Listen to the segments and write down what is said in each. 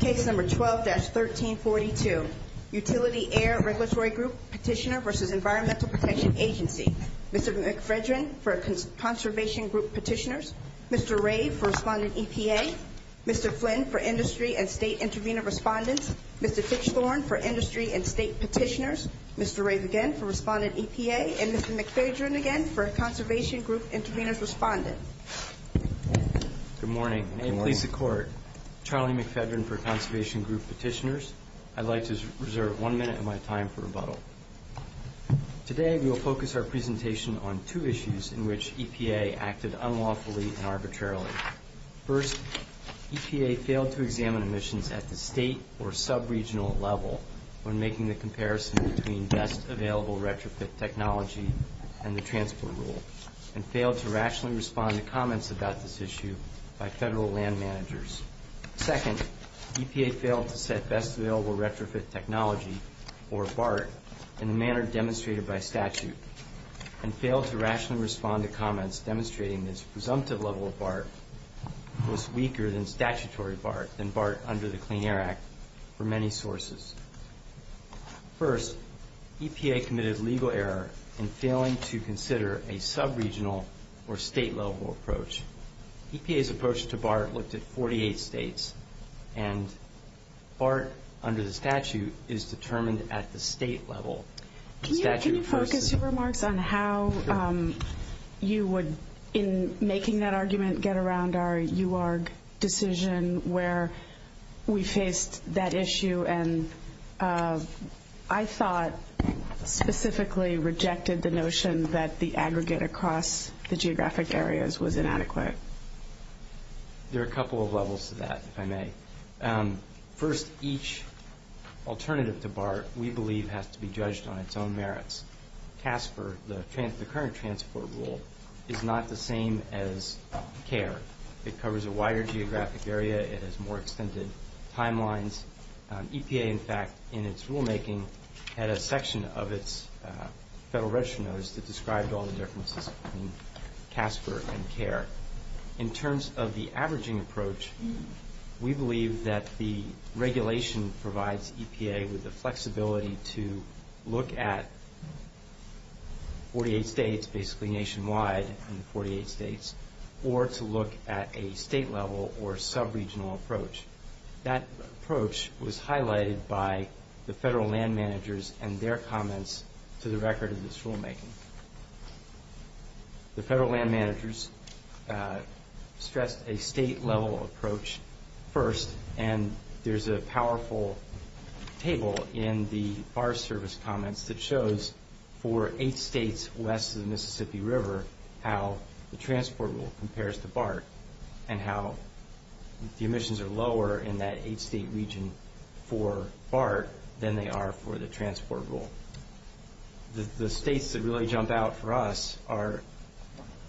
Case No. 12-1342, Utility Air Regulatory Group Petitioner v. Environmental Protection Agency Mr. McFredrin for Conservation Group Petitioners Mr. Rave for Respondent EPA Mr. Flynn for Industry and State Intervenor Respondents Mr. Fitchthorn for Industry and State Petitioners Mr. Rave again for Respondent EPA And Mr. McFedrin again for Conservation Group Intervenors Respondents Good morning. May it please the Court. Charlie McFedrin for Conservation Group Petitioners. I'd like to reserve one minute of my time for rebuttal. Today we will focus our presentation on two issues in which EPA acted unlawfully and arbitrarily. First, EPA failed to examine emissions at the state or sub-regional level when making the comparison between best available retrofit technology and the transport rule and failed to rationally respond to comments about this issue by federal land managers. Second, EPA failed to set best available retrofit technology, or BART, in the manner demonstrated by statute and failed to rationally respond to comments demonstrating this presumptive level of BART was weaker than statutory BART, than BART under the Clean Air Act, for many sources. First, EPA committed legal error in failing to consider a sub-regional or state-level approach. EPA's approach to BART looked at 48 states, and BART under the statute is determined at the state level. Can you focus your remarks on how you would, in making that argument, get around our UARG decision where we faced that issue and, I thought, specifically rejected the notion that the aggregate across the geographic areas was inadequate? There are a couple of levels to that, if I may. First, each alternative to BART, we believe, has to be judged on its own merits. CASPER, the current transport rule, is not the same as CARE. It covers a wider geographic area. It has more extended timelines. EPA, in fact, in its rulemaking, had a section of its Federal Register Notice that described all the differences between CASPER and CARE. In terms of the averaging approach, we believe that the regulation provides EPA with the flexibility to look at 48 states, basically nationwide in 48 states, or to look at a state-level or sub-regional approach. That approach was highlighted by the federal land managers and their comments to the record of this rulemaking. The federal land managers stressed a state-level approach first, and there's a powerful table in the BART service comments that shows for eight states west of the Mississippi River how the transport rule compares to BART and how the emissions are lower in that eight-state region for BART than they are for the transport rule. The states that really jump out for us are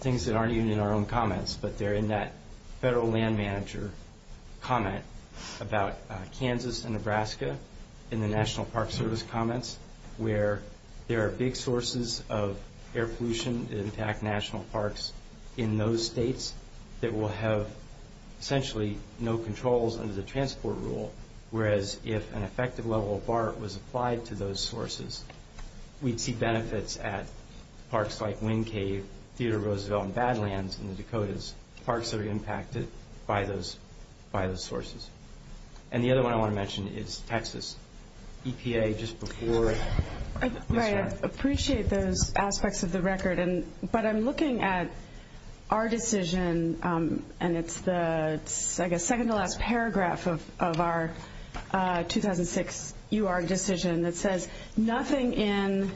things that aren't even in our own comments, but they're in that federal land manager comment about Kansas and Nebraska in the National Park Service comments, where there are big sources of air pollution that impact national parks in those states that will have essentially no controls under the transport rule, whereas if an effective level of BART was applied to those sources, we'd see benefits at parks like Wind Cave, Theodore Roosevelt, and Badlands in the Dakotas, parks that are impacted by those sources. And the other one I want to mention is Texas. EPA, just before this one. Right, I appreciate those aspects of the record, but I'm looking at our decision, and it's the, I guess, second-to-last paragraph of our 2006 UR decision that says, nothing in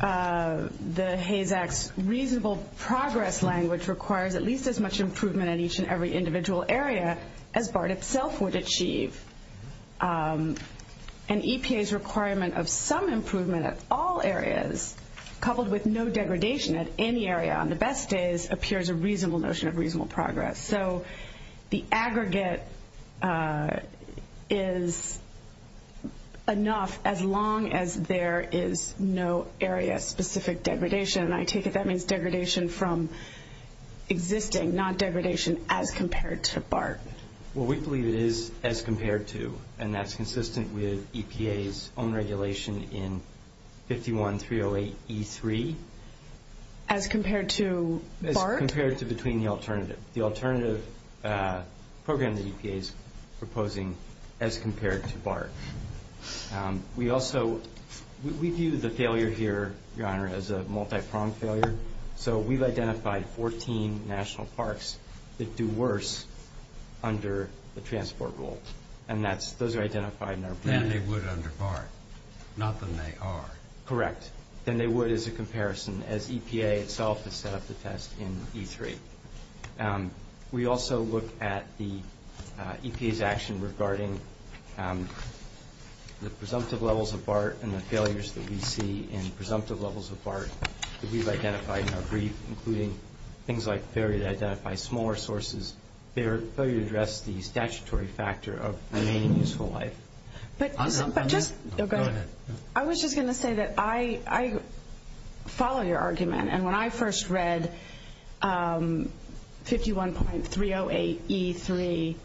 the HASE Act's reasonable progress language requires at least as much improvement in each and every individual area as BART itself would achieve. An EPA's requirement of some improvement at all areas, coupled with no degradation at any area on the best days, appears a reasonable notion of reasonable progress. So the aggregate is enough as long as there is no area-specific degradation, and I take it that means degradation from existing, not degradation as compared to BART. Well, we believe it is as compared to, and that's consistent with EPA's own regulation in 51-308-E3. As compared to BART? As compared to between the alternative. The alternative program that EPA is proposing as compared to BART. We also, we view the failure here, Your Honor, as a multipronged failure. So we've identified 14 national parks that do worse under the transport rule, and those are identified in our plan. Than they would under BART, not than they are. Correct. Than they would as a comparison, as EPA itself has set up the test in E3. We also look at the EPA's action regarding the presumptive levels of BART and the failures that we see in presumptive levels of BART that we've identified in our brief, including things like failure to identify smaller sources, failure to address the statutory factor of remaining useful life. I was just going to say that I follow your argument, and when I first read 51.308-E3,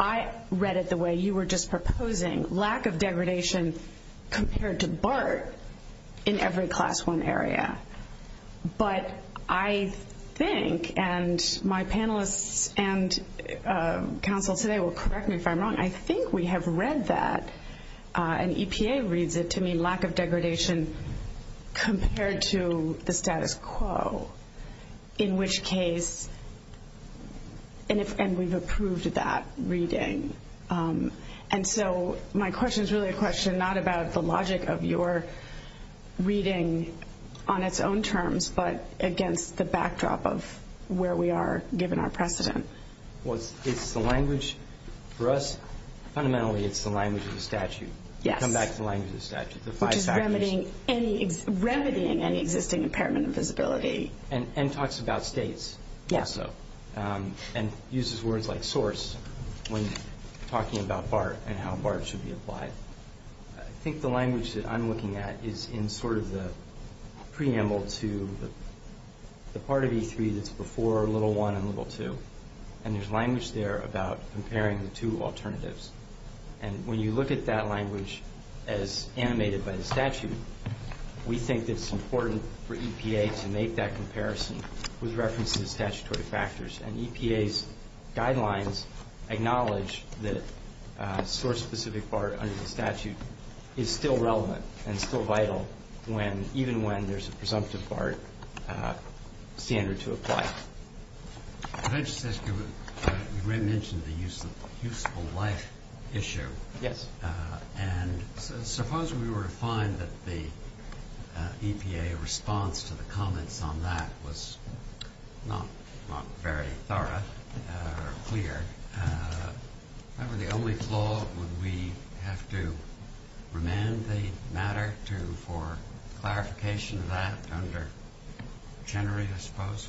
I read it the way you were just proposing, lack of degradation compared to BART in every class one area. But I think, and my panelists and counsel today will correct me if I'm wrong, I think we have read that, and EPA reads it to mean lack of degradation compared to the status quo, in which case, and we've approved that reading. And so my question is really a question not about the logic of your reading on its own terms, but against the backdrop of where we are given our precedent. Well, it's the language, for us, fundamentally it's the language of the statute. Yes. Come back to the language of the statute. Which is remedying any existing impairment of visibility. And talks about states. Yes. And uses words like source when talking about BART and how BART should be applied. I think the language that I'm looking at is in sort of the preamble to the part of E3 that's before little one and little two. And there's language there about comparing the two alternatives. And when you look at that language as animated by the statute, we think it's important for EPA to make that comparison with reference to the statutory factors. And EPA's guidelines acknowledge that source-specific BART under the statute is still relevant and still vital even when there's a presumptive BART standard to apply. Can I just ask you, you mentioned the useful life issue. Yes. And suppose we were to find that the EPA response to the comments on that was not very thorough or clear. If that were the only flaw, would we have to remand the matter for clarification of that under Generate, I suppose?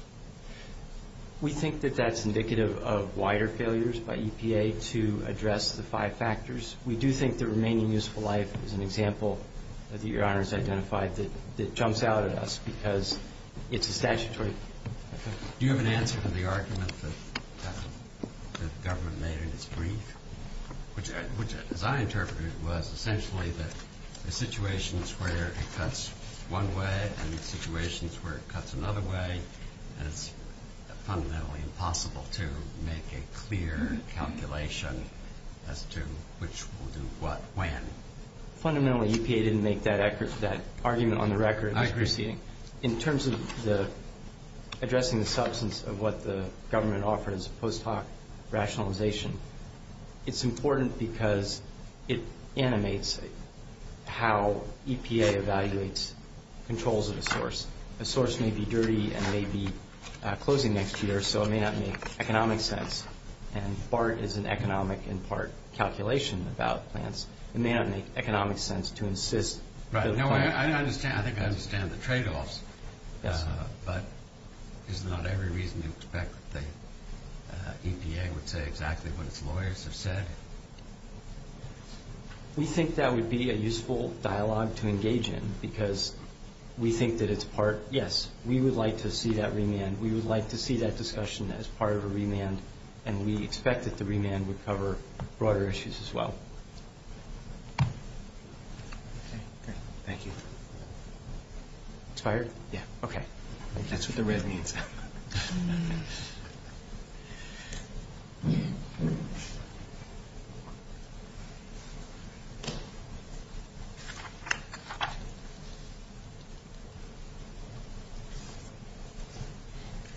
We think that that's indicative of wider failures by EPA to address the five factors. We do think the remaining useful life is an example that Your Honor has identified that jumps out at us because it's a statutory effect. Do you have an answer to the argument that the government made in its brief, which as I interpreted was essentially that the situations where it cuts one way and the situations where it cuts another way, it's fundamentally impossible to make a clear calculation as to which will do what when. Fundamentally, EPA didn't make that argument on the record. I agree. In terms of addressing the substance of what the government offers post hoc rationalization, it's important because it animates how EPA evaluates controls of a source. A source may be dirty and may be closing next year, so it may not make economic sense. And BART is an economic in part calculation about plants. It may not make economic sense to insist. I think I understand the trade-offs, but is not every reason to expect that EPA would say exactly what its lawyers have said? We think that would be a useful dialogue to engage in because we think that it's part. Yes, we would like to see that remand. We would like to see that discussion as part of a remand, and we expect that the remand would cover broader issues as well. Thank you. That's what the red means.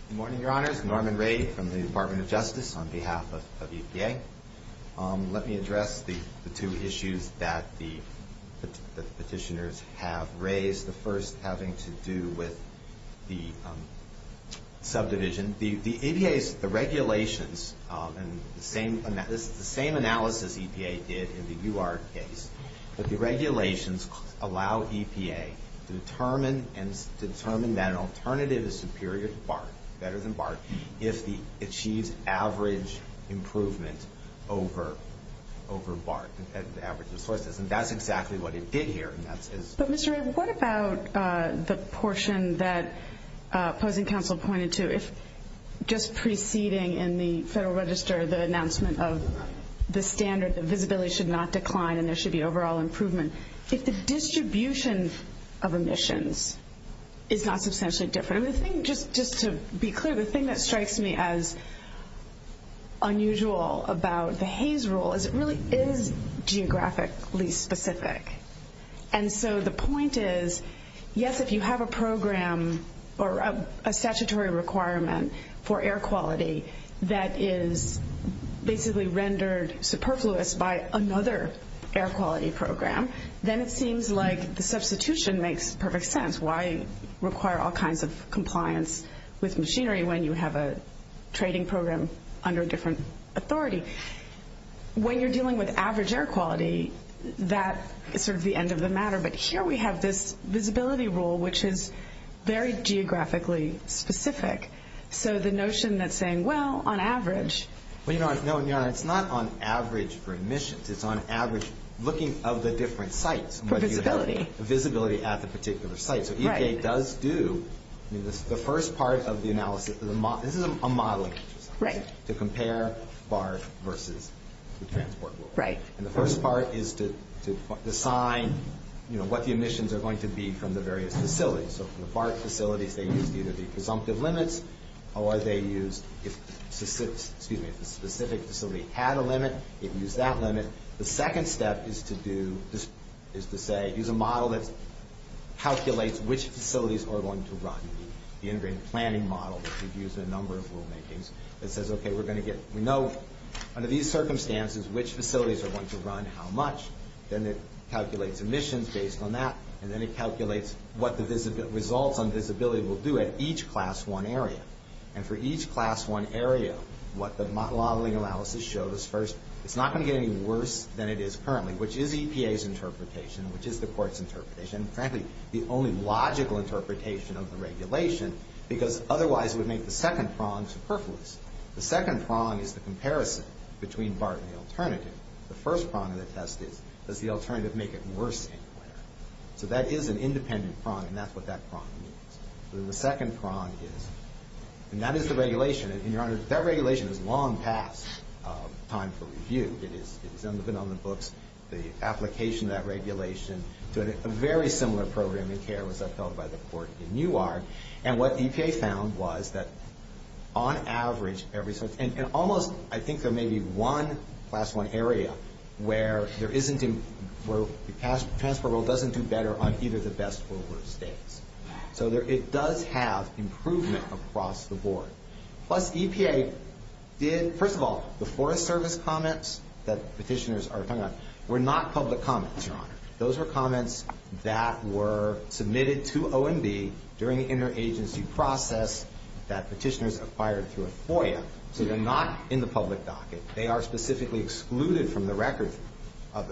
Good morning, Your Honors. Norman Ray from the Department of Justice on behalf of EPA. Let me address the two issues that the petitioners have raised, the first having to do with the subdivision. The EPA's regulations, and this is the same analysis EPA did in the UR case, but the regulations allow EPA to determine that an alternative is superior to BART, better than BART, if it achieves average improvement over BART, average resources. And that's exactly what it did here. But, Mr. Ray, what about the portion that opposing counsel pointed to? If just preceding in the Federal Register the announcement of the standard, the visibility should not decline and there should be overall improvement. If the distribution of emissions is not substantially different. Just to be clear, the thing that strikes me as unusual about the Hayes rule is it really is geographically specific. And so the point is, yes, if you have a program or a statutory requirement for air quality that is basically rendered superfluous by another air quality program, then it seems like the substitution makes perfect sense. Why require all kinds of compliance with machinery when you have a trading program under a different authority? When you're dealing with average air quality, that is sort of the end of the matter. But here we have this visibility rule, which is very geographically specific. So the notion that's saying, well, on average. Well, Your Honor, it's not on average for emissions. It's on average looking of the different sites. Visibility. Visibility at the particular site. So EPA does do the first part of the analysis. This is a modeling exercise to compare BART versus the transport rule. And the first part is to assign what the emissions are going to be from the various facilities. So the BART facilities, they use either the presumptive limits or they use if the specific facility had a limit, it would use that limit. The second step is to say, use a model that calculates which facilities are going to run. The integrated planning model that we've used in a number of rulemakings that says, okay, we're going to get. We know under these circumstances which facilities are going to run how much. Then it calculates emissions based on that. And then it calculates what the results on visibility will do at each Class I area. And for each Class I area, what the modeling analysis shows first, it's not going to get any worse than it is currently, the only logical interpretation of the regulation, because otherwise it would make the second prong superfluous. The second prong is the comparison between BART and the alternative. The first prong of the test is, does the alternative make it worse anywhere? So that is an independent prong, and that's what that prong is. The second prong is, and that is the regulation. And, Your Honor, that regulation is long past time for review. It has been on the books. The application of that regulation to a very similar program in care was upheld by the court in Newark. And what EPA found was that, on average, every sort of, and almost, I think there may be one Class I area where there isn't, where the transport rule doesn't do better on either the best or worst states. So it does have improvement across the board. Plus, EPA did, first of all, the Forest Service comments that petitioners are talking about were not public comments, Your Honor. Those were comments that were submitted to OMB during the interagency process that petitioners acquired through a FOIA. So they're not in the public docket. They are specifically excluded from the record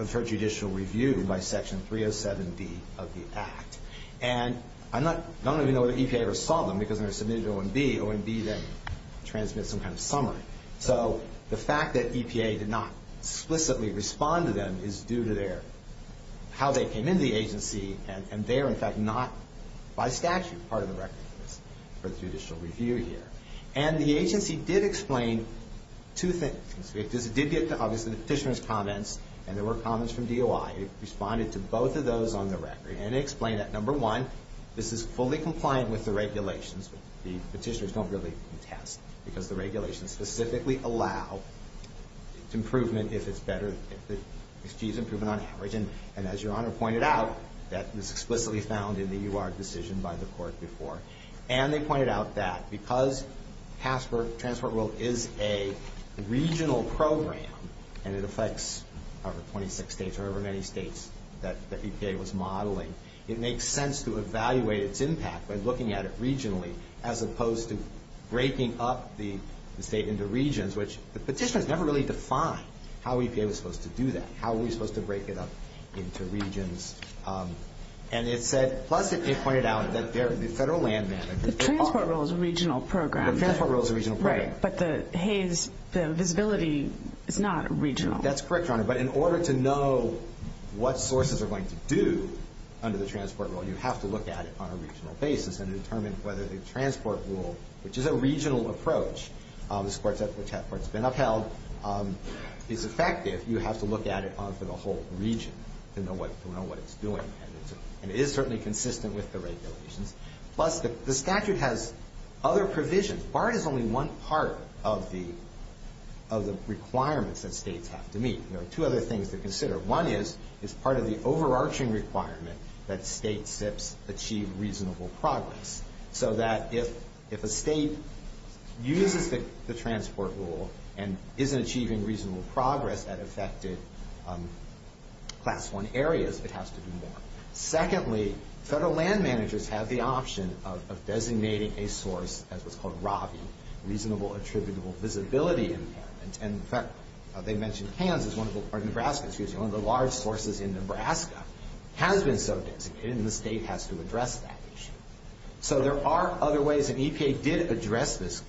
for judicial review by Section 307B of the Act. And I don't even know whether EPA ever saw them because they were submitted to OMB. OMB then transmits some kind of summary. So the fact that EPA did not explicitly respond to them is due to their, how they came into the agency, and they are, in fact, not by statute part of the record for judicial review here. And the agency did explain two things. It did get to, obviously, the petitioner's comments, and there were comments from DOI. It responded to both of those on the record, and it explained that, number one, this is fully compliant with the regulations. The petitioners don't really contest because the regulations specifically allow improvement if it's better, if it achieves improvement on average. And as Your Honor pointed out, that was explicitly found in the UR decision by the court before. And they pointed out that because Passport World is a regional program and it affects over 26 states or however many states that EPA was modeling, it makes sense to evaluate its impact by looking at it regionally as opposed to breaking up the state into regions, which the petitioners never really defined how EPA was supposed to do that, how we were supposed to break it up into regions. And it said, plus it pointed out that the federal land managers- The Transport Rule is a regional program. The Transport Rule is a regional program. Right, but the Hays, the visibility is not regional. That's correct, Your Honor, but in order to know what sources are going to do under the Transport Rule, you have to look at it on a regional basis and determine whether the Transport Rule, which is a regional approach, which has been upheld, is effective. You have to look at it onto the whole region to know what it's doing. And it is certainly consistent with the regulations. Plus, the statute has other provisions. BART is only one part of the requirements that states have to meet. There are two other things to consider. One is it's part of the overarching requirement that state SIPs achieve reasonable progress, so that if a state uses the Transport Rule and isn't achieving reasonable progress that affected Class I areas, it has to do more. Secondly, federal land managers have the option of designating a source as what's called RAVI, Reasonable Attributable Visibility Impairment. And in fact, they mentioned Kansas, or Nebraska, excuse me, which is one of the large sources in Nebraska, has been so designated, and the state has to address that issue. So there are other ways, and EPA did address this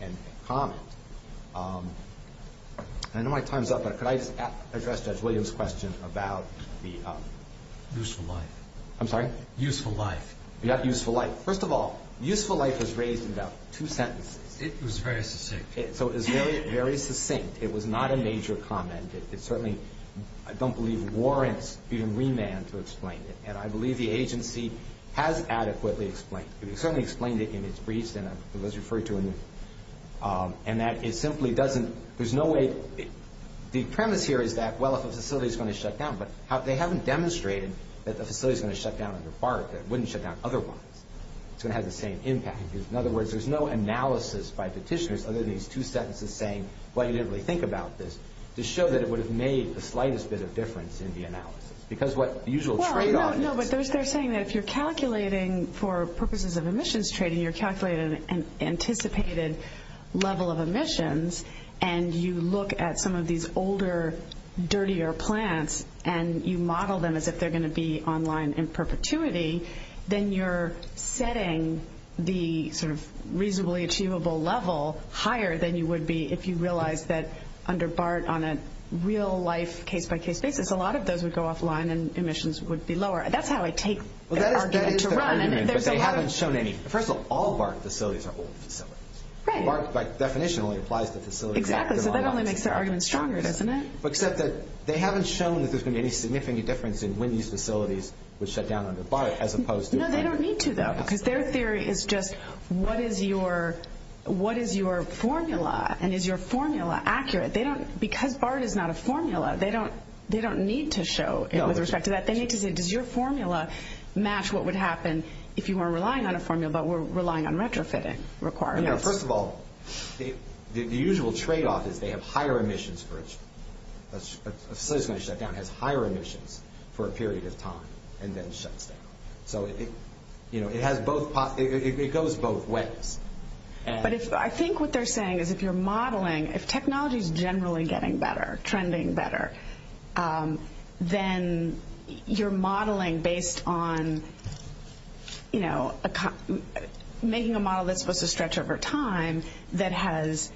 and comment. I know my time's up, but could I address Judge Williams' question about the... Useful life. I'm sorry? Useful life. Yeah, useful life. First of all, useful life was raised in about two sentences. It was very succinct. So it was very, very succinct. It was not a major comment. It certainly, I don't believe, warrants even remand to explain it, and I believe the agency has adequately explained it. It certainly explained it in its briefs, and it was referred to in the... And that it simply doesn't... There's no way... The premise here is that, well, if a facility's going to shut down, but they haven't demonstrated that the facility's going to shut down under BARC, that it wouldn't shut down otherwise. It's going to have the same impact. In other words, there's no analysis by petitioners other than these two sentences saying, well, you didn't really think about this, to show that it would have made the slightest bit of difference in the analysis. Because what the usual tradeoff is... No, but they're saying that if you're calculating for purposes of emissions trading, you're calculating an anticipated level of emissions, and you look at some of these older, dirtier plants, and you model them as if they're going to be online in perpetuity, then you're setting the sort of reasonably achievable level higher than you would be if you realized that under BARC on a real-life, case-by-case basis, a lot of those would go offline and emissions would be lower. That's how I take the argument to run. But they haven't shown any... First of all, all BARC facilities are old facilities. Right. BARC, by definition, only applies to facilities... Exactly, so that only makes the argument stronger, doesn't it? Except that they haven't shown that there's going to be any significant difference in when these facilities would shut down under BARC as opposed to... No, they don't need to, though, because their theory is just, what is your formula, and is your formula accurate? Because BARC is not a formula, they don't need to show it with respect to that. They need to say, does your formula match what would happen if you weren't relying on a formula but were relying on retrofitting requirements? First of all, the usual tradeoff is they have higher emissions for each... A facility that's going to shut down has higher emissions for a period of time and then shuts down. So it goes both ways. But I think what they're saying is if you're modeling, if technology is generally getting better, trending better, then you're modeling based on making a model that's supposed to stretch over time that has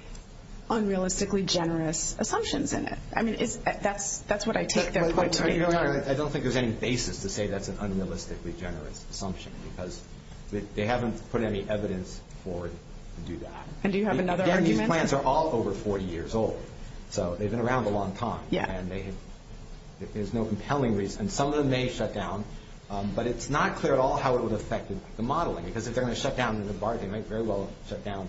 unrealistically generous assumptions in it. I mean, that's what I take their point to be. I don't think there's any basis to say that's an unrealistically generous assumption because they haven't put any evidence forward to do that. And do you have another argument? Again, these plants are all over 40 years old. So they've been around a long time, and there's no compelling reason. Some of them may shut down, but it's not clear at all how it would affect the modeling because if they're going to shut down under BARC, they might very well shut down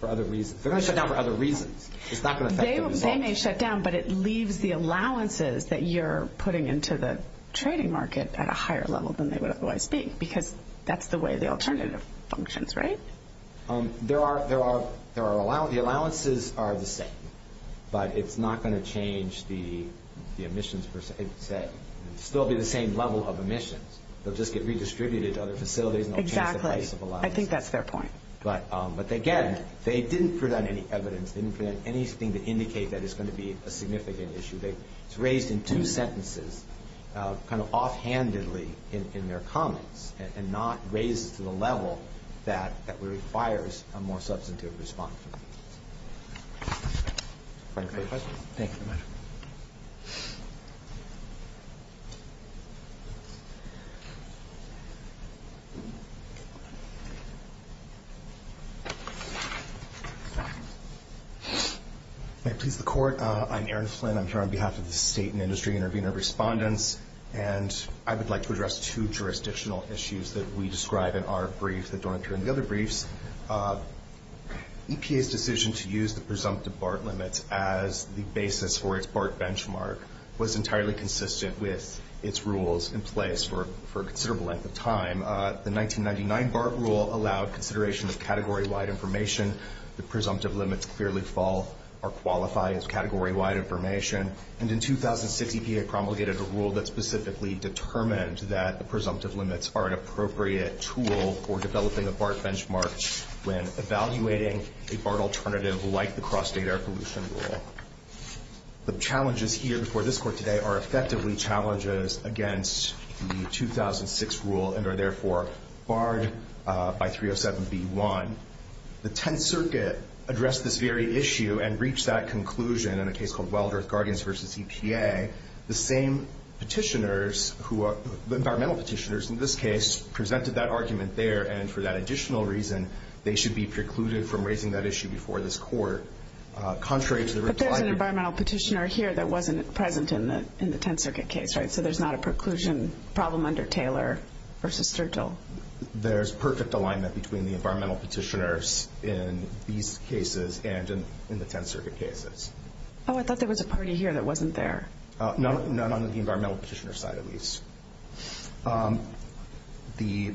for other reasons. If they're going to shut down for other reasons, it's not going to affect the results. They may shut down, but it leaves the allowances that you're putting into the trading market at a higher level than they would otherwise be because that's the way the alternative functions, right? There are allowances. The allowances are the same, but it's not going to change the emissions per se. It will still be the same level of emissions. They'll just get redistributed to other facilities. Exactly. I think that's their point. But again, they didn't put out any evidence. They didn't put out anything to indicate that it's going to be a significant issue. It's raised in two sentences kind of offhandedly in their comments and not raised to the level that requires a more substantive response. Are there any questions? Thank you. May it please the Court. I'm Aaron Flynn. I'm here on behalf of the State and Industry Intervenor Respondents, and I would like to address two jurisdictional issues that we describe in our brief that don't occur in the other briefs. EPA's decision to use the presumptive BART limits as the basis for its BART benchmark was entirely consistent with its rules in place for a considerable length of time. The 1999 BART rule allowed consideration of category-wide information. The presumptive limits clearly fall or qualify as category-wide information. And in 2006, EPA promulgated a rule that specifically determined that the presumptive limits are an appropriate tool for developing a BART benchmark when evaluating a BART alternative like the Cross-State Air Pollution Rule. The challenges here before this Court today are effectively challenges against the 2006 rule and are therefore barred by 307B1. The Tenth Circuit addressed this very issue and reached that conclusion in a case called Wild Earth Guardians v. EPA. The same petitioners who are environmental petitioners in this case presented that argument there and for that additional reason they should be precluded from raising that issue before this Court. Contrary to the reply... But there's an environmental petitioner here that wasn't present in the Tenth Circuit case, right? So there's not a preclusion problem under Taylor v. Sturgill. There's perfect alignment between the environmental petitioners in these cases and in the Tenth Circuit cases. Oh, I thought there was a party here that wasn't there. None on the environmental petitioner side, at least. The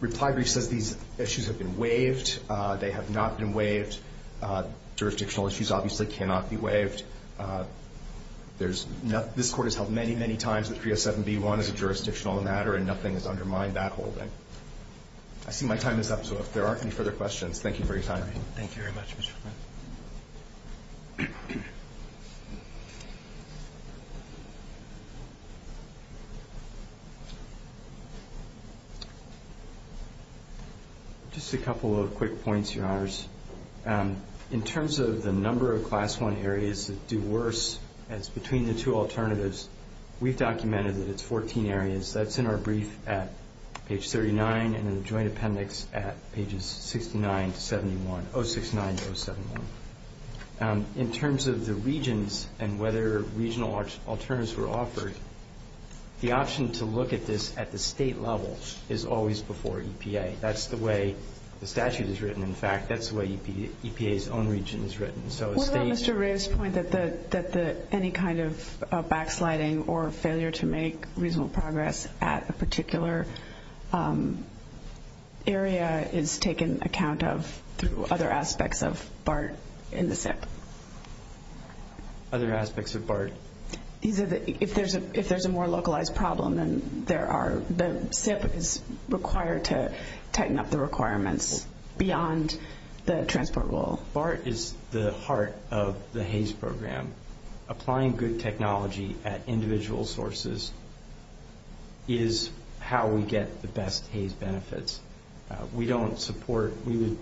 reply brief says these issues have been waived. They have not been waived. Jurisdictional issues obviously cannot be waived. This Court has held many, many times that 307B1 is a jurisdictional matter and nothing has undermined that holding. I see my time is up, so if there aren't any further questions, thank you for your time. Thank you very much, Mr. Friend. Just a couple of quick points, Your Honors. In terms of the number of Class I areas that do worse as between the two alternatives, we've documented that it's 14 areas. That's in our brief at page 39 and in the joint appendix at pages 69 to 71, 069 to 071. In terms of the regions and whether regional alternatives were offered, the option to look at this at the State level is always before EPA. That's the way the statute is written. In fact, that's the way EPA's own region is written. What about Mr. Ray's point that any kind of backsliding or failure to make reasonable progress at a particular area is taken account of through other aspects of BART in the SIP? Other aspects of BART? If there's a more localized problem, then the SIP is required to tighten up the requirements beyond the transport rule. Well, BART is the heart of the HAYS program. Applying good technology at individual sources is how we get the best HAYS benefits. We don't support, we would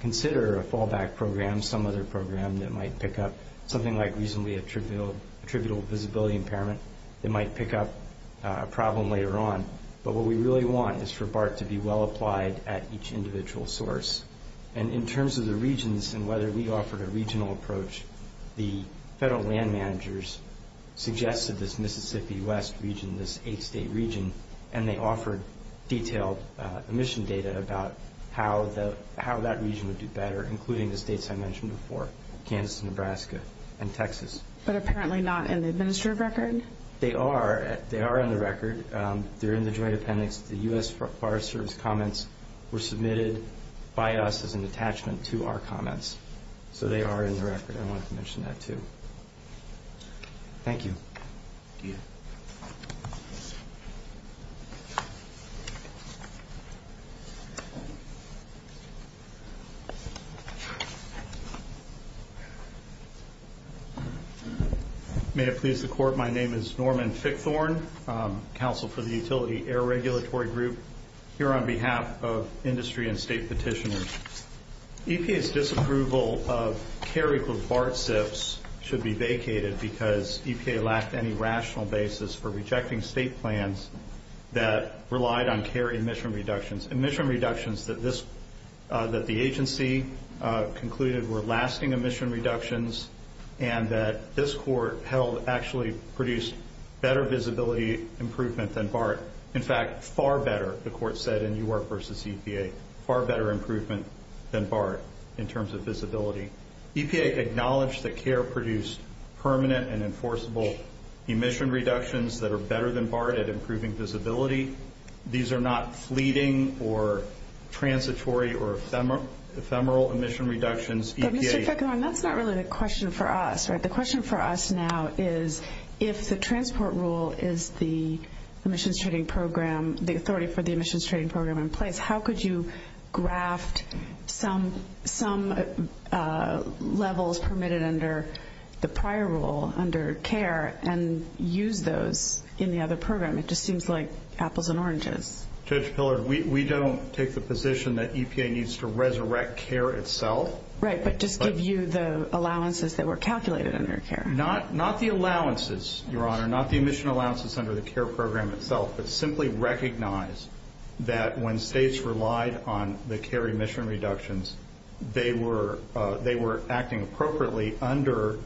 consider a fallback program, some other program that might pick up something like reasonably attributable visibility impairment that might pick up a problem later on. But what we really want is for BART to be well applied at each individual source. And in terms of the regions and whether we offered a regional approach, the federal land managers suggested this Mississippi West region, this eight-state region, and they offered detailed emission data about how that region would do better, including the states I mentioned before, Kansas, Nebraska, and Texas. But apparently not in the administrative record? They are in the record. They're in the Joint Appendix. The U.S. Forest Service comments were submitted by us as an attachment to our comments. So they are in the record. I wanted to mention that too. Thank you. May it please the Court, my name is Norman Fickthorn, counsel for the Utility Air Regulatory Group here on behalf of industry and state petitioners. EPA's disapproval of carry for BART SIFs should be vacated because EPA lacked any rational basis for rejecting state plans that relied on carry emission reductions. Emission reductions that the agency concluded were lasting emission reductions and that this Court held actually produced better visibility improvement than BART. In fact, far better, the Court said in U.R. v. EPA. Far better improvement than BART in terms of visibility. EPA acknowledged that carry produced permanent and enforceable emission reductions that are better than BART at improving visibility. These are not fleeting or transitory or ephemeral emission reductions. But Mr. Fickthorn, that's not really the question for us, right? The question for us now is if the transport rule is the emissions trading program, the authority for the emissions trading program in place, how could you graft some levels permitted under the prior rule under care and use those in the other program? It just seems like apples and oranges. Judge Pillard, we don't take the position that EPA needs to resurrect care itself. Right, but just give you the allowances that were calculated under care. Not the allowances, Your Honor, not the emission allowances under the care program itself, but simply recognize that when states relied on the carry emission reductions, they were acting appropriately under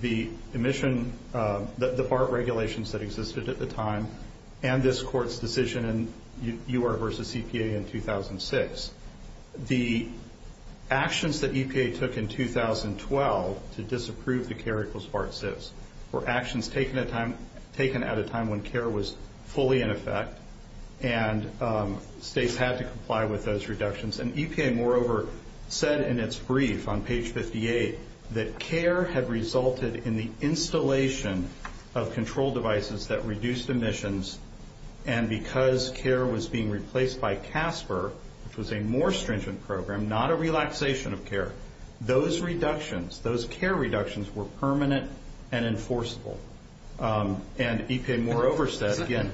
the BART regulations that existed at the time and this Court's decision in U.R. v. EPA in 2006. The actions that EPA took in 2012 to disapprove the care equals BART SIPs were actions taken at a time when care was fully in effect and states had to comply with those reductions. And EPA, moreover, said in its brief on page 58 that care had resulted in the installation of control devices that reduced emissions and because care was being replaced by CASPER, which was a more stringent program, not a relaxation of care. Those reductions, those care reductions were permanent and enforceable. And EPA, moreover, said again...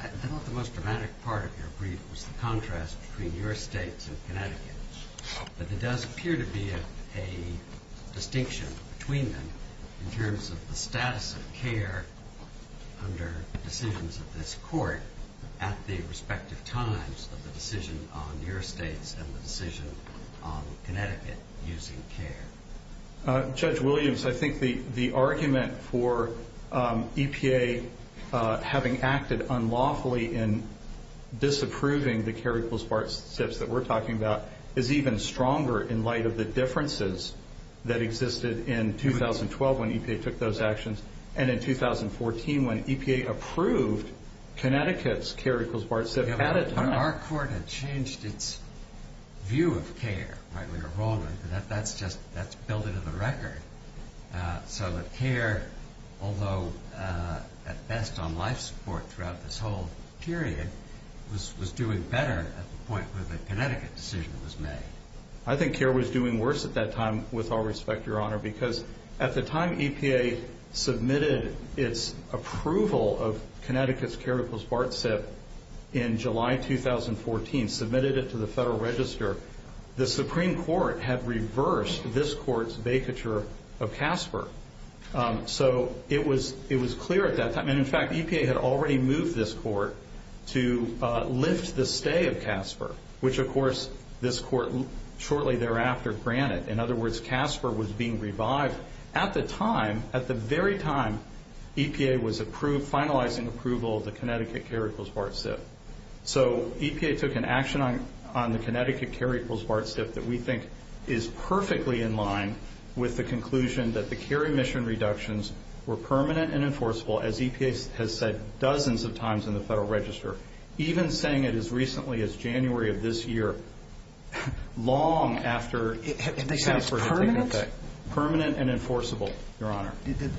I thought the most dramatic part of your brief was the contrast between your states and Connecticut. But there does appear to be a distinction between them in terms of the status of care under decisions of this Court at the respective times of the decision on your states and the decision on Connecticut using care. Judge Williams, I think the argument for EPA having acted unlawfully in disapproving the care equals BART SIPs that we're talking about is even stronger in light of the differences that existed in 2012 when EPA took those actions and in 2014 when EPA approved Connecticut's care equals BART SIP at a time... Our Court had changed its view of care, right? We were wrong. That's just... that's built into the record. So that care, although at best on life support throughout this whole period, was doing better at the point where the Connecticut decision was made. I think care was doing worse at that time, with all respect, Your Honor, because at the time EPA submitted its approval of Connecticut's care equals BART SIP in July 2014, submitted it to the Federal Register, the Supreme Court had reversed this Court's vacature of CASPER. So it was clear at that time. And, in fact, EPA had already moved this Court to lift the stay of CASPER, which, of course, this Court shortly thereafter granted. In other words, CASPER was being revived at the time, at the very time EPA was approved, finalizing approval of the Connecticut care equals BART SIP. So EPA took an action on the Connecticut care equals BART SIP that we think is perfectly in line with the conclusion that the care emission reductions were permanent and enforceable, as EPA has said dozens of times in the Federal Register, even saying it as recently as January of this year, long after... They said it's permanent? Permanent and enforceable, Your Honor.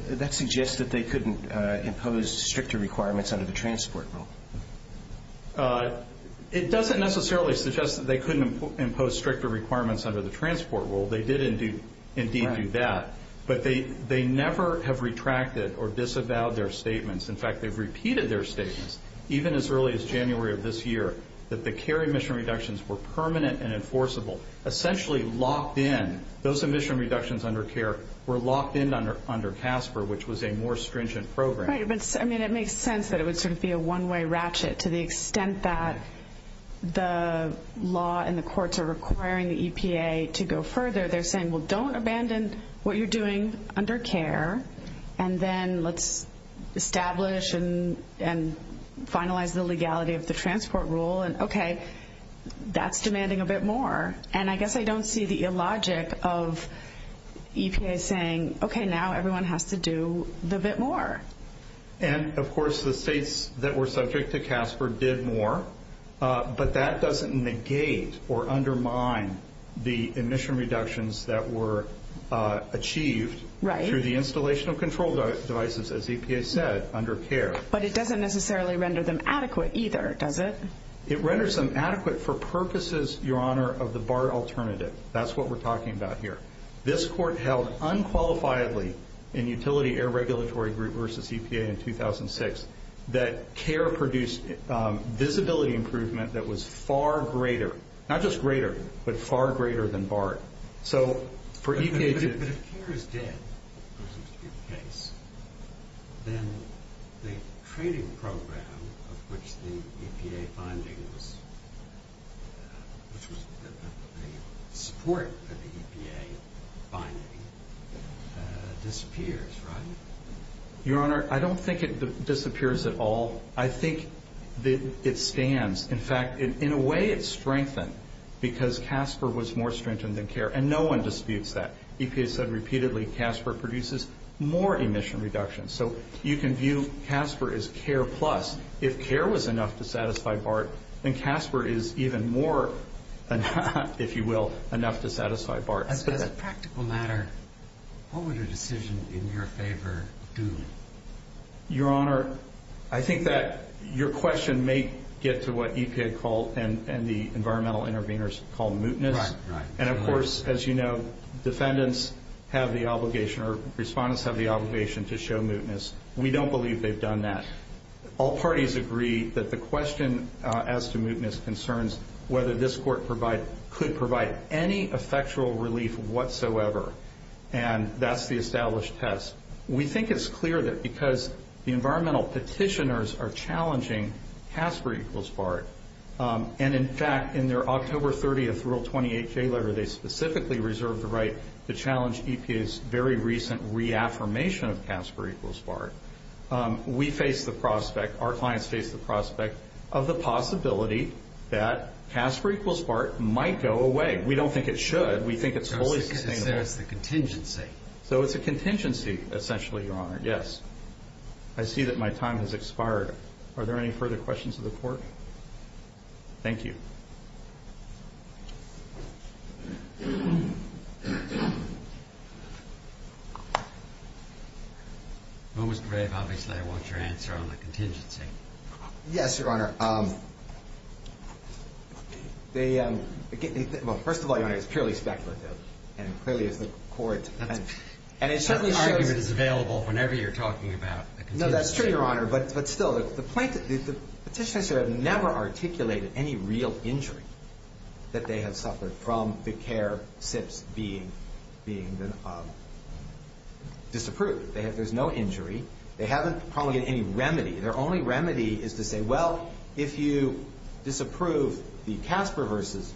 That suggests that they couldn't impose stricter requirements under the transport rule. It doesn't necessarily suggest that they couldn't impose stricter requirements under the transport rule. They did indeed do that. But they never have retracted or disavowed their statements. In fact, they've repeated their statements, even as early as January of this year, that the care emission reductions were permanent and enforceable, essentially locked in. Those emission reductions under care were locked in under CASPER, which was a more stringent program. Right. But, I mean, it makes sense that it would sort of be a one-way ratchet. To the extent that the law and the courts are requiring the EPA to go further, they're saying, well, don't abandon what you're doing under care, and then let's establish and finalize the legality of the transport rule, and, okay, that's demanding a bit more. And I guess I don't see the illogic of EPA saying, okay, now everyone has to do the bit more. And, of course, the states that were subject to CASPER did more, but that doesn't negate or undermine the emission reductions that were achieved through the installation of control devices, as EPA said, under care. But it doesn't necessarily render them adequate either, does it? It renders them adequate for purposes, Your Honor, of the BART alternative. That's what we're talking about here. This court held unqualifiedly in utility air regulatory group versus EPA in 2006 that care produced visibility improvement that was far greater, not just greater, but far greater than BART. But if care is dead, which seems to be the case, then the trading program of which the EPA binding was, which was the support of the EPA binding, disappears, right? Your Honor, I don't think it disappears at all. I think it stands. In fact, in a way it's strengthened because CASPER was more strengthened than care, and no one disputes that. EPA said repeatedly CASPER produces more emission reductions. So you can view CASPER as care plus. If care was enough to satisfy BART, then CASPER is even more, if you will, enough to satisfy BART. As a practical matter, what would a decision in your favor do? Your Honor, I think that your question may get to what EPA called and the environmental interveners called mootness. And, of course, as you know, defendants have the obligation or respondents have the obligation to show mootness. We don't believe they've done that. All parties agree that the question as to mootness concerns whether this court could provide any effectual relief whatsoever, and that's the established test. We think it's clear that because the environmental petitioners are challenging CASPER equals BART, and, in fact, in their October 30th Rule 28J letter, they specifically reserved the right to challenge EPA's very recent reaffirmation of CASPER equals BART. We face the prospect, our clients face the prospect, of the possibility that CASPER equals BART might go away. We don't think it should. We think it's wholly sustainable. So it's a contingency. Essentially, Your Honor. Yes. I see that my time has expired. Are there any further questions of the Court? Thank you. Ms. Grave, obviously, I want your answer on the contingency. Yes, Your Honor. Well, first of all, Your Honor, it's purely speculative, and it clearly is the Court's. That argument is available whenever you're talking about the contingency. No, that's true, Your Honor. But still, the petitioners have never articulated any real injury that they have suffered from the CARE SIPs being disapproved. There's no injury. They haven't probably had any remedy. Their only remedy is to say, well, if you disapprove the CASPER versus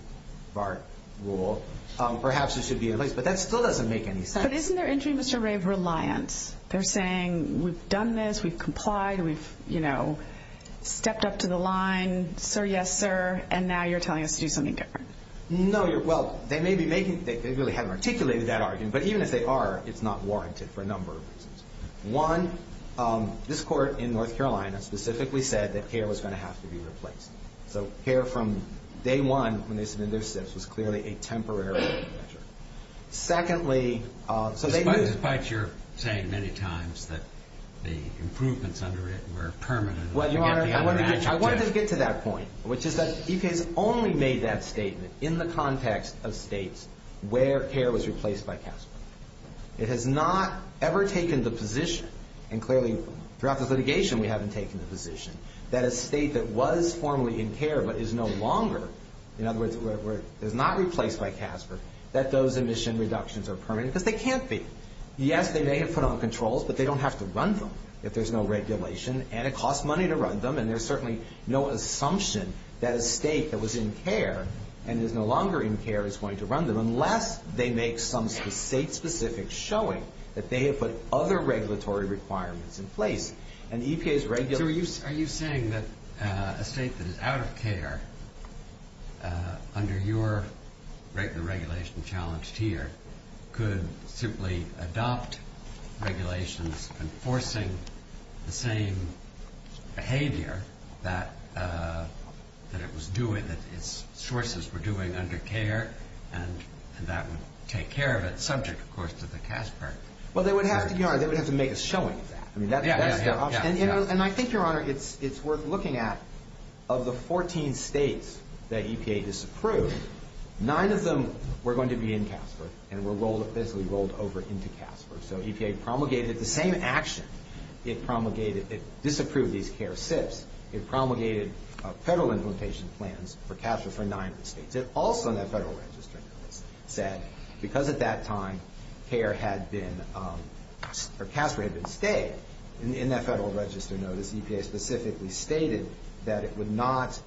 BART rule, perhaps it should be replaced. But that still doesn't make any sense. But isn't there injury in Mr. Grave's reliance? They're saying, we've done this, we've complied, we've stepped up to the line, sir, yes, sir, and now you're telling us to do something different. No, well, they really haven't articulated that argument. But even if they are, it's not warranted for a number of reasons. One, this Court in North Carolina specifically said that CARE was going to have to be replaced. So CARE from day one, when they submitted their SIPs, was clearly a temporary measure. Secondly, so they moved. Despite your saying many times that the improvements under it were permanent. Well, Your Honor, I wanted to get to that point, which is that EPA has only made that statement in the context of states where CARE was replaced by CASPER. It has not ever taken the position, and clearly throughout this litigation we haven't taken the position, that a state that was formerly in CARE but is no longer, in other words, is not replaced by CASPER, that those emission reductions are permanent, because they can't be. Yes, they may have put on controls, but they don't have to run them if there's no regulation, and it costs money to run them, and there's certainly no assumption that a state that was in CARE and is no longer in CARE is going to run them, unless they make some state-specific showing that they have put other regulatory requirements in place. So are you saying that a state that is out of CARE, under your regulation challenged here, could simply adopt regulations enforcing the same behavior that it was doing, that its sources were doing under CARE, and that would take care of it, subject, of course, to the CASPER? Well, they would have to, Your Honor, they would have to make a showing of that. And I think, Your Honor, it's worth looking at. Of the 14 states that EPA disapproved, nine of them were going to be in CASPER and were basically rolled over into CASPER. So EPA promulgated the same action. It disapproved these CARE SIPs. It promulgated federal implementation plans for CASPER for nine of the states. It also, in that federal register notice, said, because at that time CASPER had been stayed, in that federal register notice, EPA specifically stated that it would not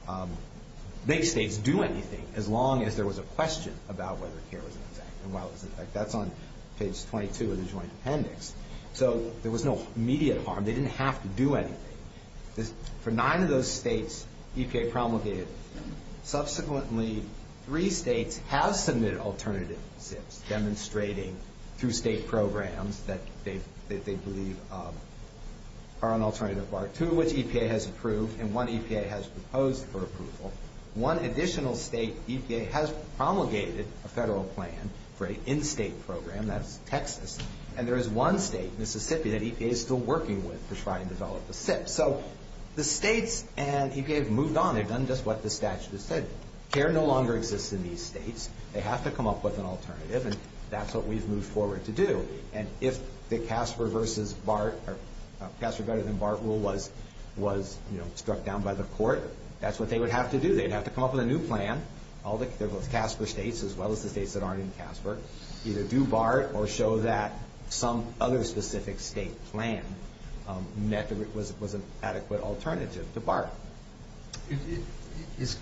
make states do anything as long as there was a question about whether CARE was in effect. And while it was in effect, that's on page 22 of the Joint Appendix. So there was no immediate harm. They didn't have to do anything. For nine of those states, EPA promulgated. Subsequently, three states have submitted alternative SIPs, demonstrating through state programs that they believe are an alternative. Two of which EPA has approved and one EPA has proposed for approval. One additional state, EPA has promulgated a federal plan for an in-state program. That's Texas. And there is one state, Mississippi, that EPA is still working with to try and develop a SIP. So the states and EPA have moved on. They've done just what the statute has said. CARE no longer exists in these states. They have to come up with an alternative, and that's what we've moved forward to do. And if the CASPER versus BART, or CASPER better than BART rule was struck down by the court, that's what they would have to do. They'd have to come up with a new plan. All the CASPER states, as well as the states that aren't in CASPER, either do BART or show that some other specific state plan was an adequate alternative to BART. There's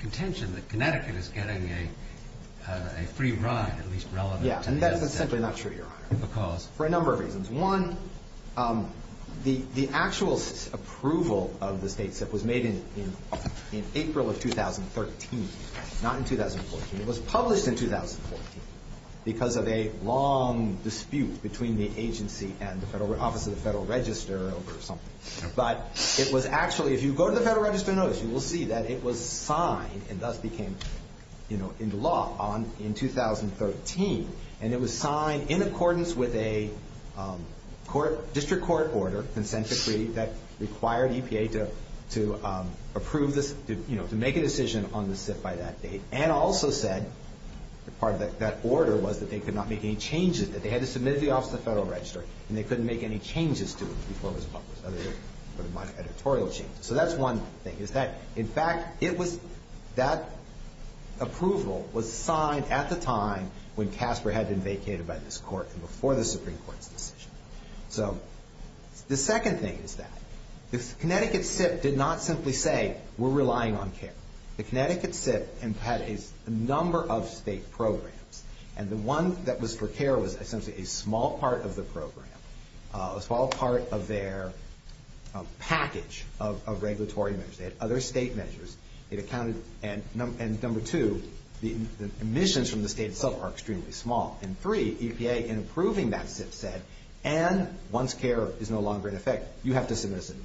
contention that Connecticut is getting a free ride, at least relevant to the SIP. Yeah, and that's essentially not true, Your Honor, for a number of reasons. One, the actual approval of the state SIP was made in April of 2013, not in 2014. It was published in 2014 because of a long dispute between the agency and the Office of the Federal Register over something. But it was actually, if you go to the Federal Register notice, you will see that it was signed and thus became into law in 2013, and it was signed in accordance with a district court order, consent decree that required EPA to approve this, to make a decision on the SIP by that date and also said that part of that order was that they could not make any changes, that they had to submit it to the Office of the Federal Register, and they couldn't make any changes to it before it was published, other than editorial changes. So that's one thing. In fact, that approval was signed at the time when CASPER had been vacated by this court and before the Supreme Court's decision. So the second thing is that the Connecticut SIP did not simply say, we're relying on CARE. The Connecticut SIP had a number of state programs, and the one that was for CARE was essentially a small part of the program, a small part of their package of regulatory measures. They had other state measures. It accounted, and number two, the emissions from the state itself are extremely small. And three, EPA, in approving that SIP said, and once CARE is no longer in effect, you have to submit a SIP.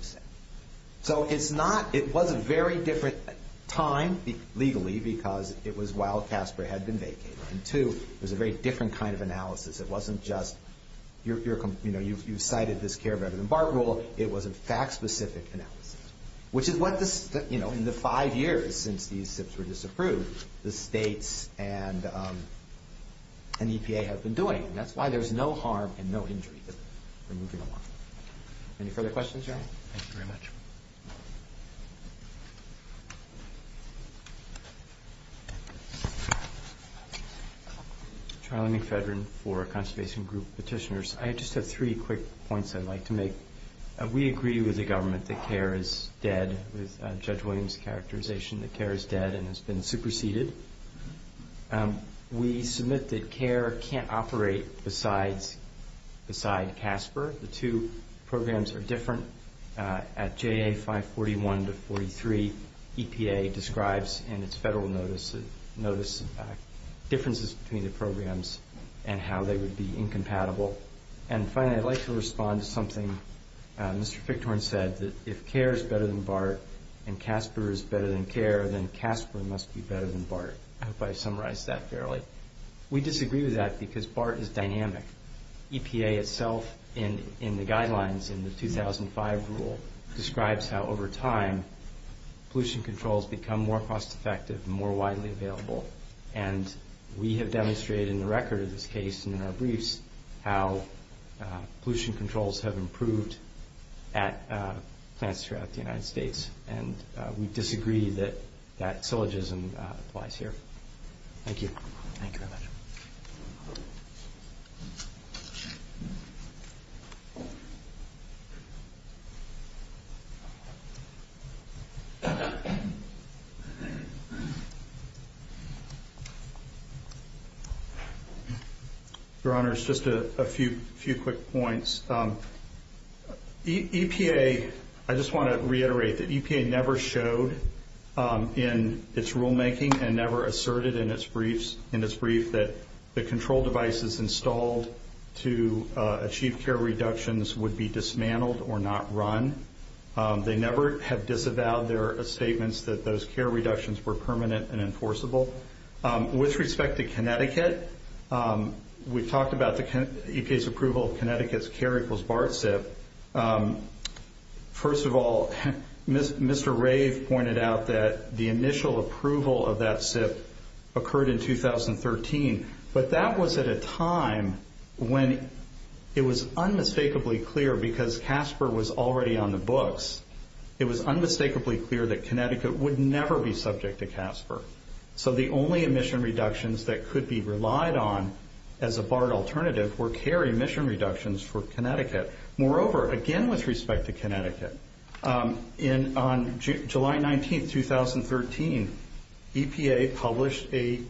So it was a very different time, legally, because it was while CASPER had been vacated. And two, it was a very different kind of analysis. It wasn't just, you cited this CARE rather than BART rule. It was a fact-specific analysis, which is what, in the five years since these SIPs were disapproved, the states and EPA have been doing. And that's why there's no harm and no injury for moving along. Any further questions, gentlemen? Thank you very much. Charlie McFedrin for Conservation Group Petitioners. I just have three quick points I'd like to make. We agree with the government that CARE is dead, with Judge Williams' characterization that CARE is dead and has been superseded. We submit that CARE can't operate besides CASPER. The two programs are different. At JA 541-43, EPA describes in its federal notice differences between the programs and how they would be incompatible. And finally, I'd like to respond to something Mr. Fichthorn said, that if CARE is better than BART and CASPER is better than CARE, then CASPER must be better than BART. I hope I summarized that fairly. We disagree with that because BART is dynamic. EPA itself, in the guidelines in the 2005 rule, describes how over time pollution controls become more cost-effective and more widely available. And we have demonstrated in the record of this case and in our briefs how pollution controls have improved at plants throughout the United States. And we disagree that that syllogism applies here. Thank you. Thank you very much. Thank you. Your Honors, just a few quick points. EPA, I just want to reiterate that EPA never showed in its rulemaking and never asserted in its brief that the control devices installed to achieve CARE reductions would be dismantled or not run. They never have disavowed their statements that those CARE reductions were permanent and enforceable. With respect to Connecticut, we've talked about EPA's approval of Connecticut's CARE equals BART SIP. First of all, Mr. Rave pointed out that the initial approval of that SIP occurred in 2013. But that was at a time when it was unmistakably clear, because CASPER was already on the books, it was unmistakably clear that Connecticut would never be subject to CASPER. So the only emission reductions that could be relied on as a BART alternative were CARE emission reductions for Connecticut. Moreover, again with respect to Connecticut, on July 19, 2013, EPA published a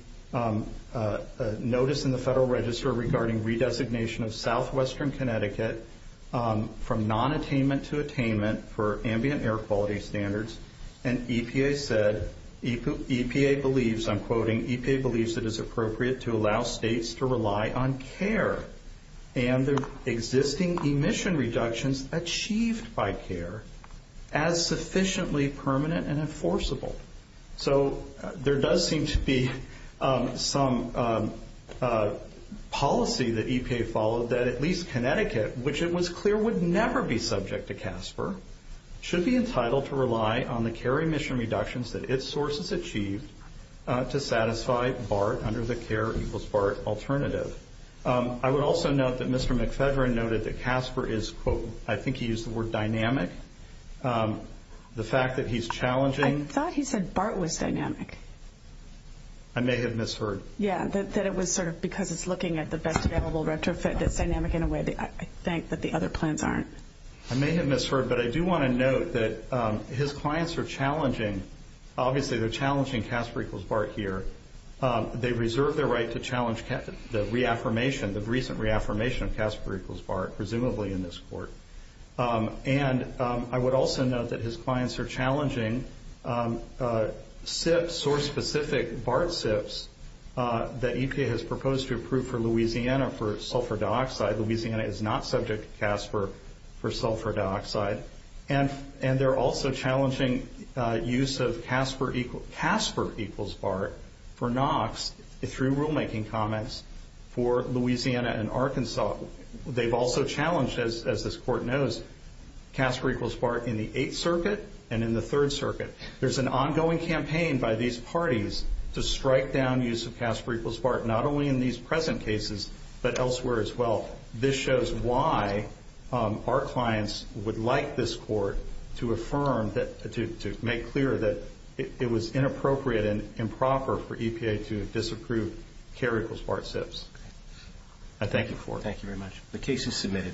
notice in the Federal Register regarding redesignation of southwestern Connecticut from non-attainment to attainment for ambient air quality standards. And EPA said, EPA believes, I'm quoting, EPA believes it is appropriate to allow states to rely on CARE and the existing emission reductions achieved by CARE as sufficiently permanent and enforceable. So there does seem to be some policy that EPA followed that at least Connecticut, which it was clear would never be subject to CASPER, should be entitled to rely on the CARE emission reductions that its sources achieved to satisfy BART under the CARE equals BART alternative. I would also note that Mr. McPhedren noted that CASPER is, quote, I think he used the word dynamic. The fact that he's challenging- I thought he said BART was dynamic. I may have misheard. Yeah, that it was sort of because it's looking at the best available retrofit that's dynamic in a way. I think that the other plans aren't. I may have misheard, but I do want to note that his clients are challenging, obviously they're challenging CASPER equals BART here. They reserve their right to challenge the reaffirmation, the recent reaffirmation of CASPER equals BART, presumably in this court. And I would also note that his clients are challenging SIPs or specific BART SIPs that EPA has proposed to approve for Louisiana for sulfur dioxide. Louisiana is not subject to CASPER for sulfur dioxide. And they're also challenging use of CASPER equals BART for NOx through rulemaking comments for Louisiana and Arkansas. They've also challenged, as this court knows, CASPER equals BART in the Eighth Circuit and in the Third Circuit. There's an ongoing campaign by these parties to strike down use of CASPER equals BART, not only in these present cases, but elsewhere as well. This shows why our clients would like this court to affirm, to make clear that it was inappropriate and improper for EPA to disapprove CARE equals BART SIPs. I thank you for it. Thank you very much. The case is submitted.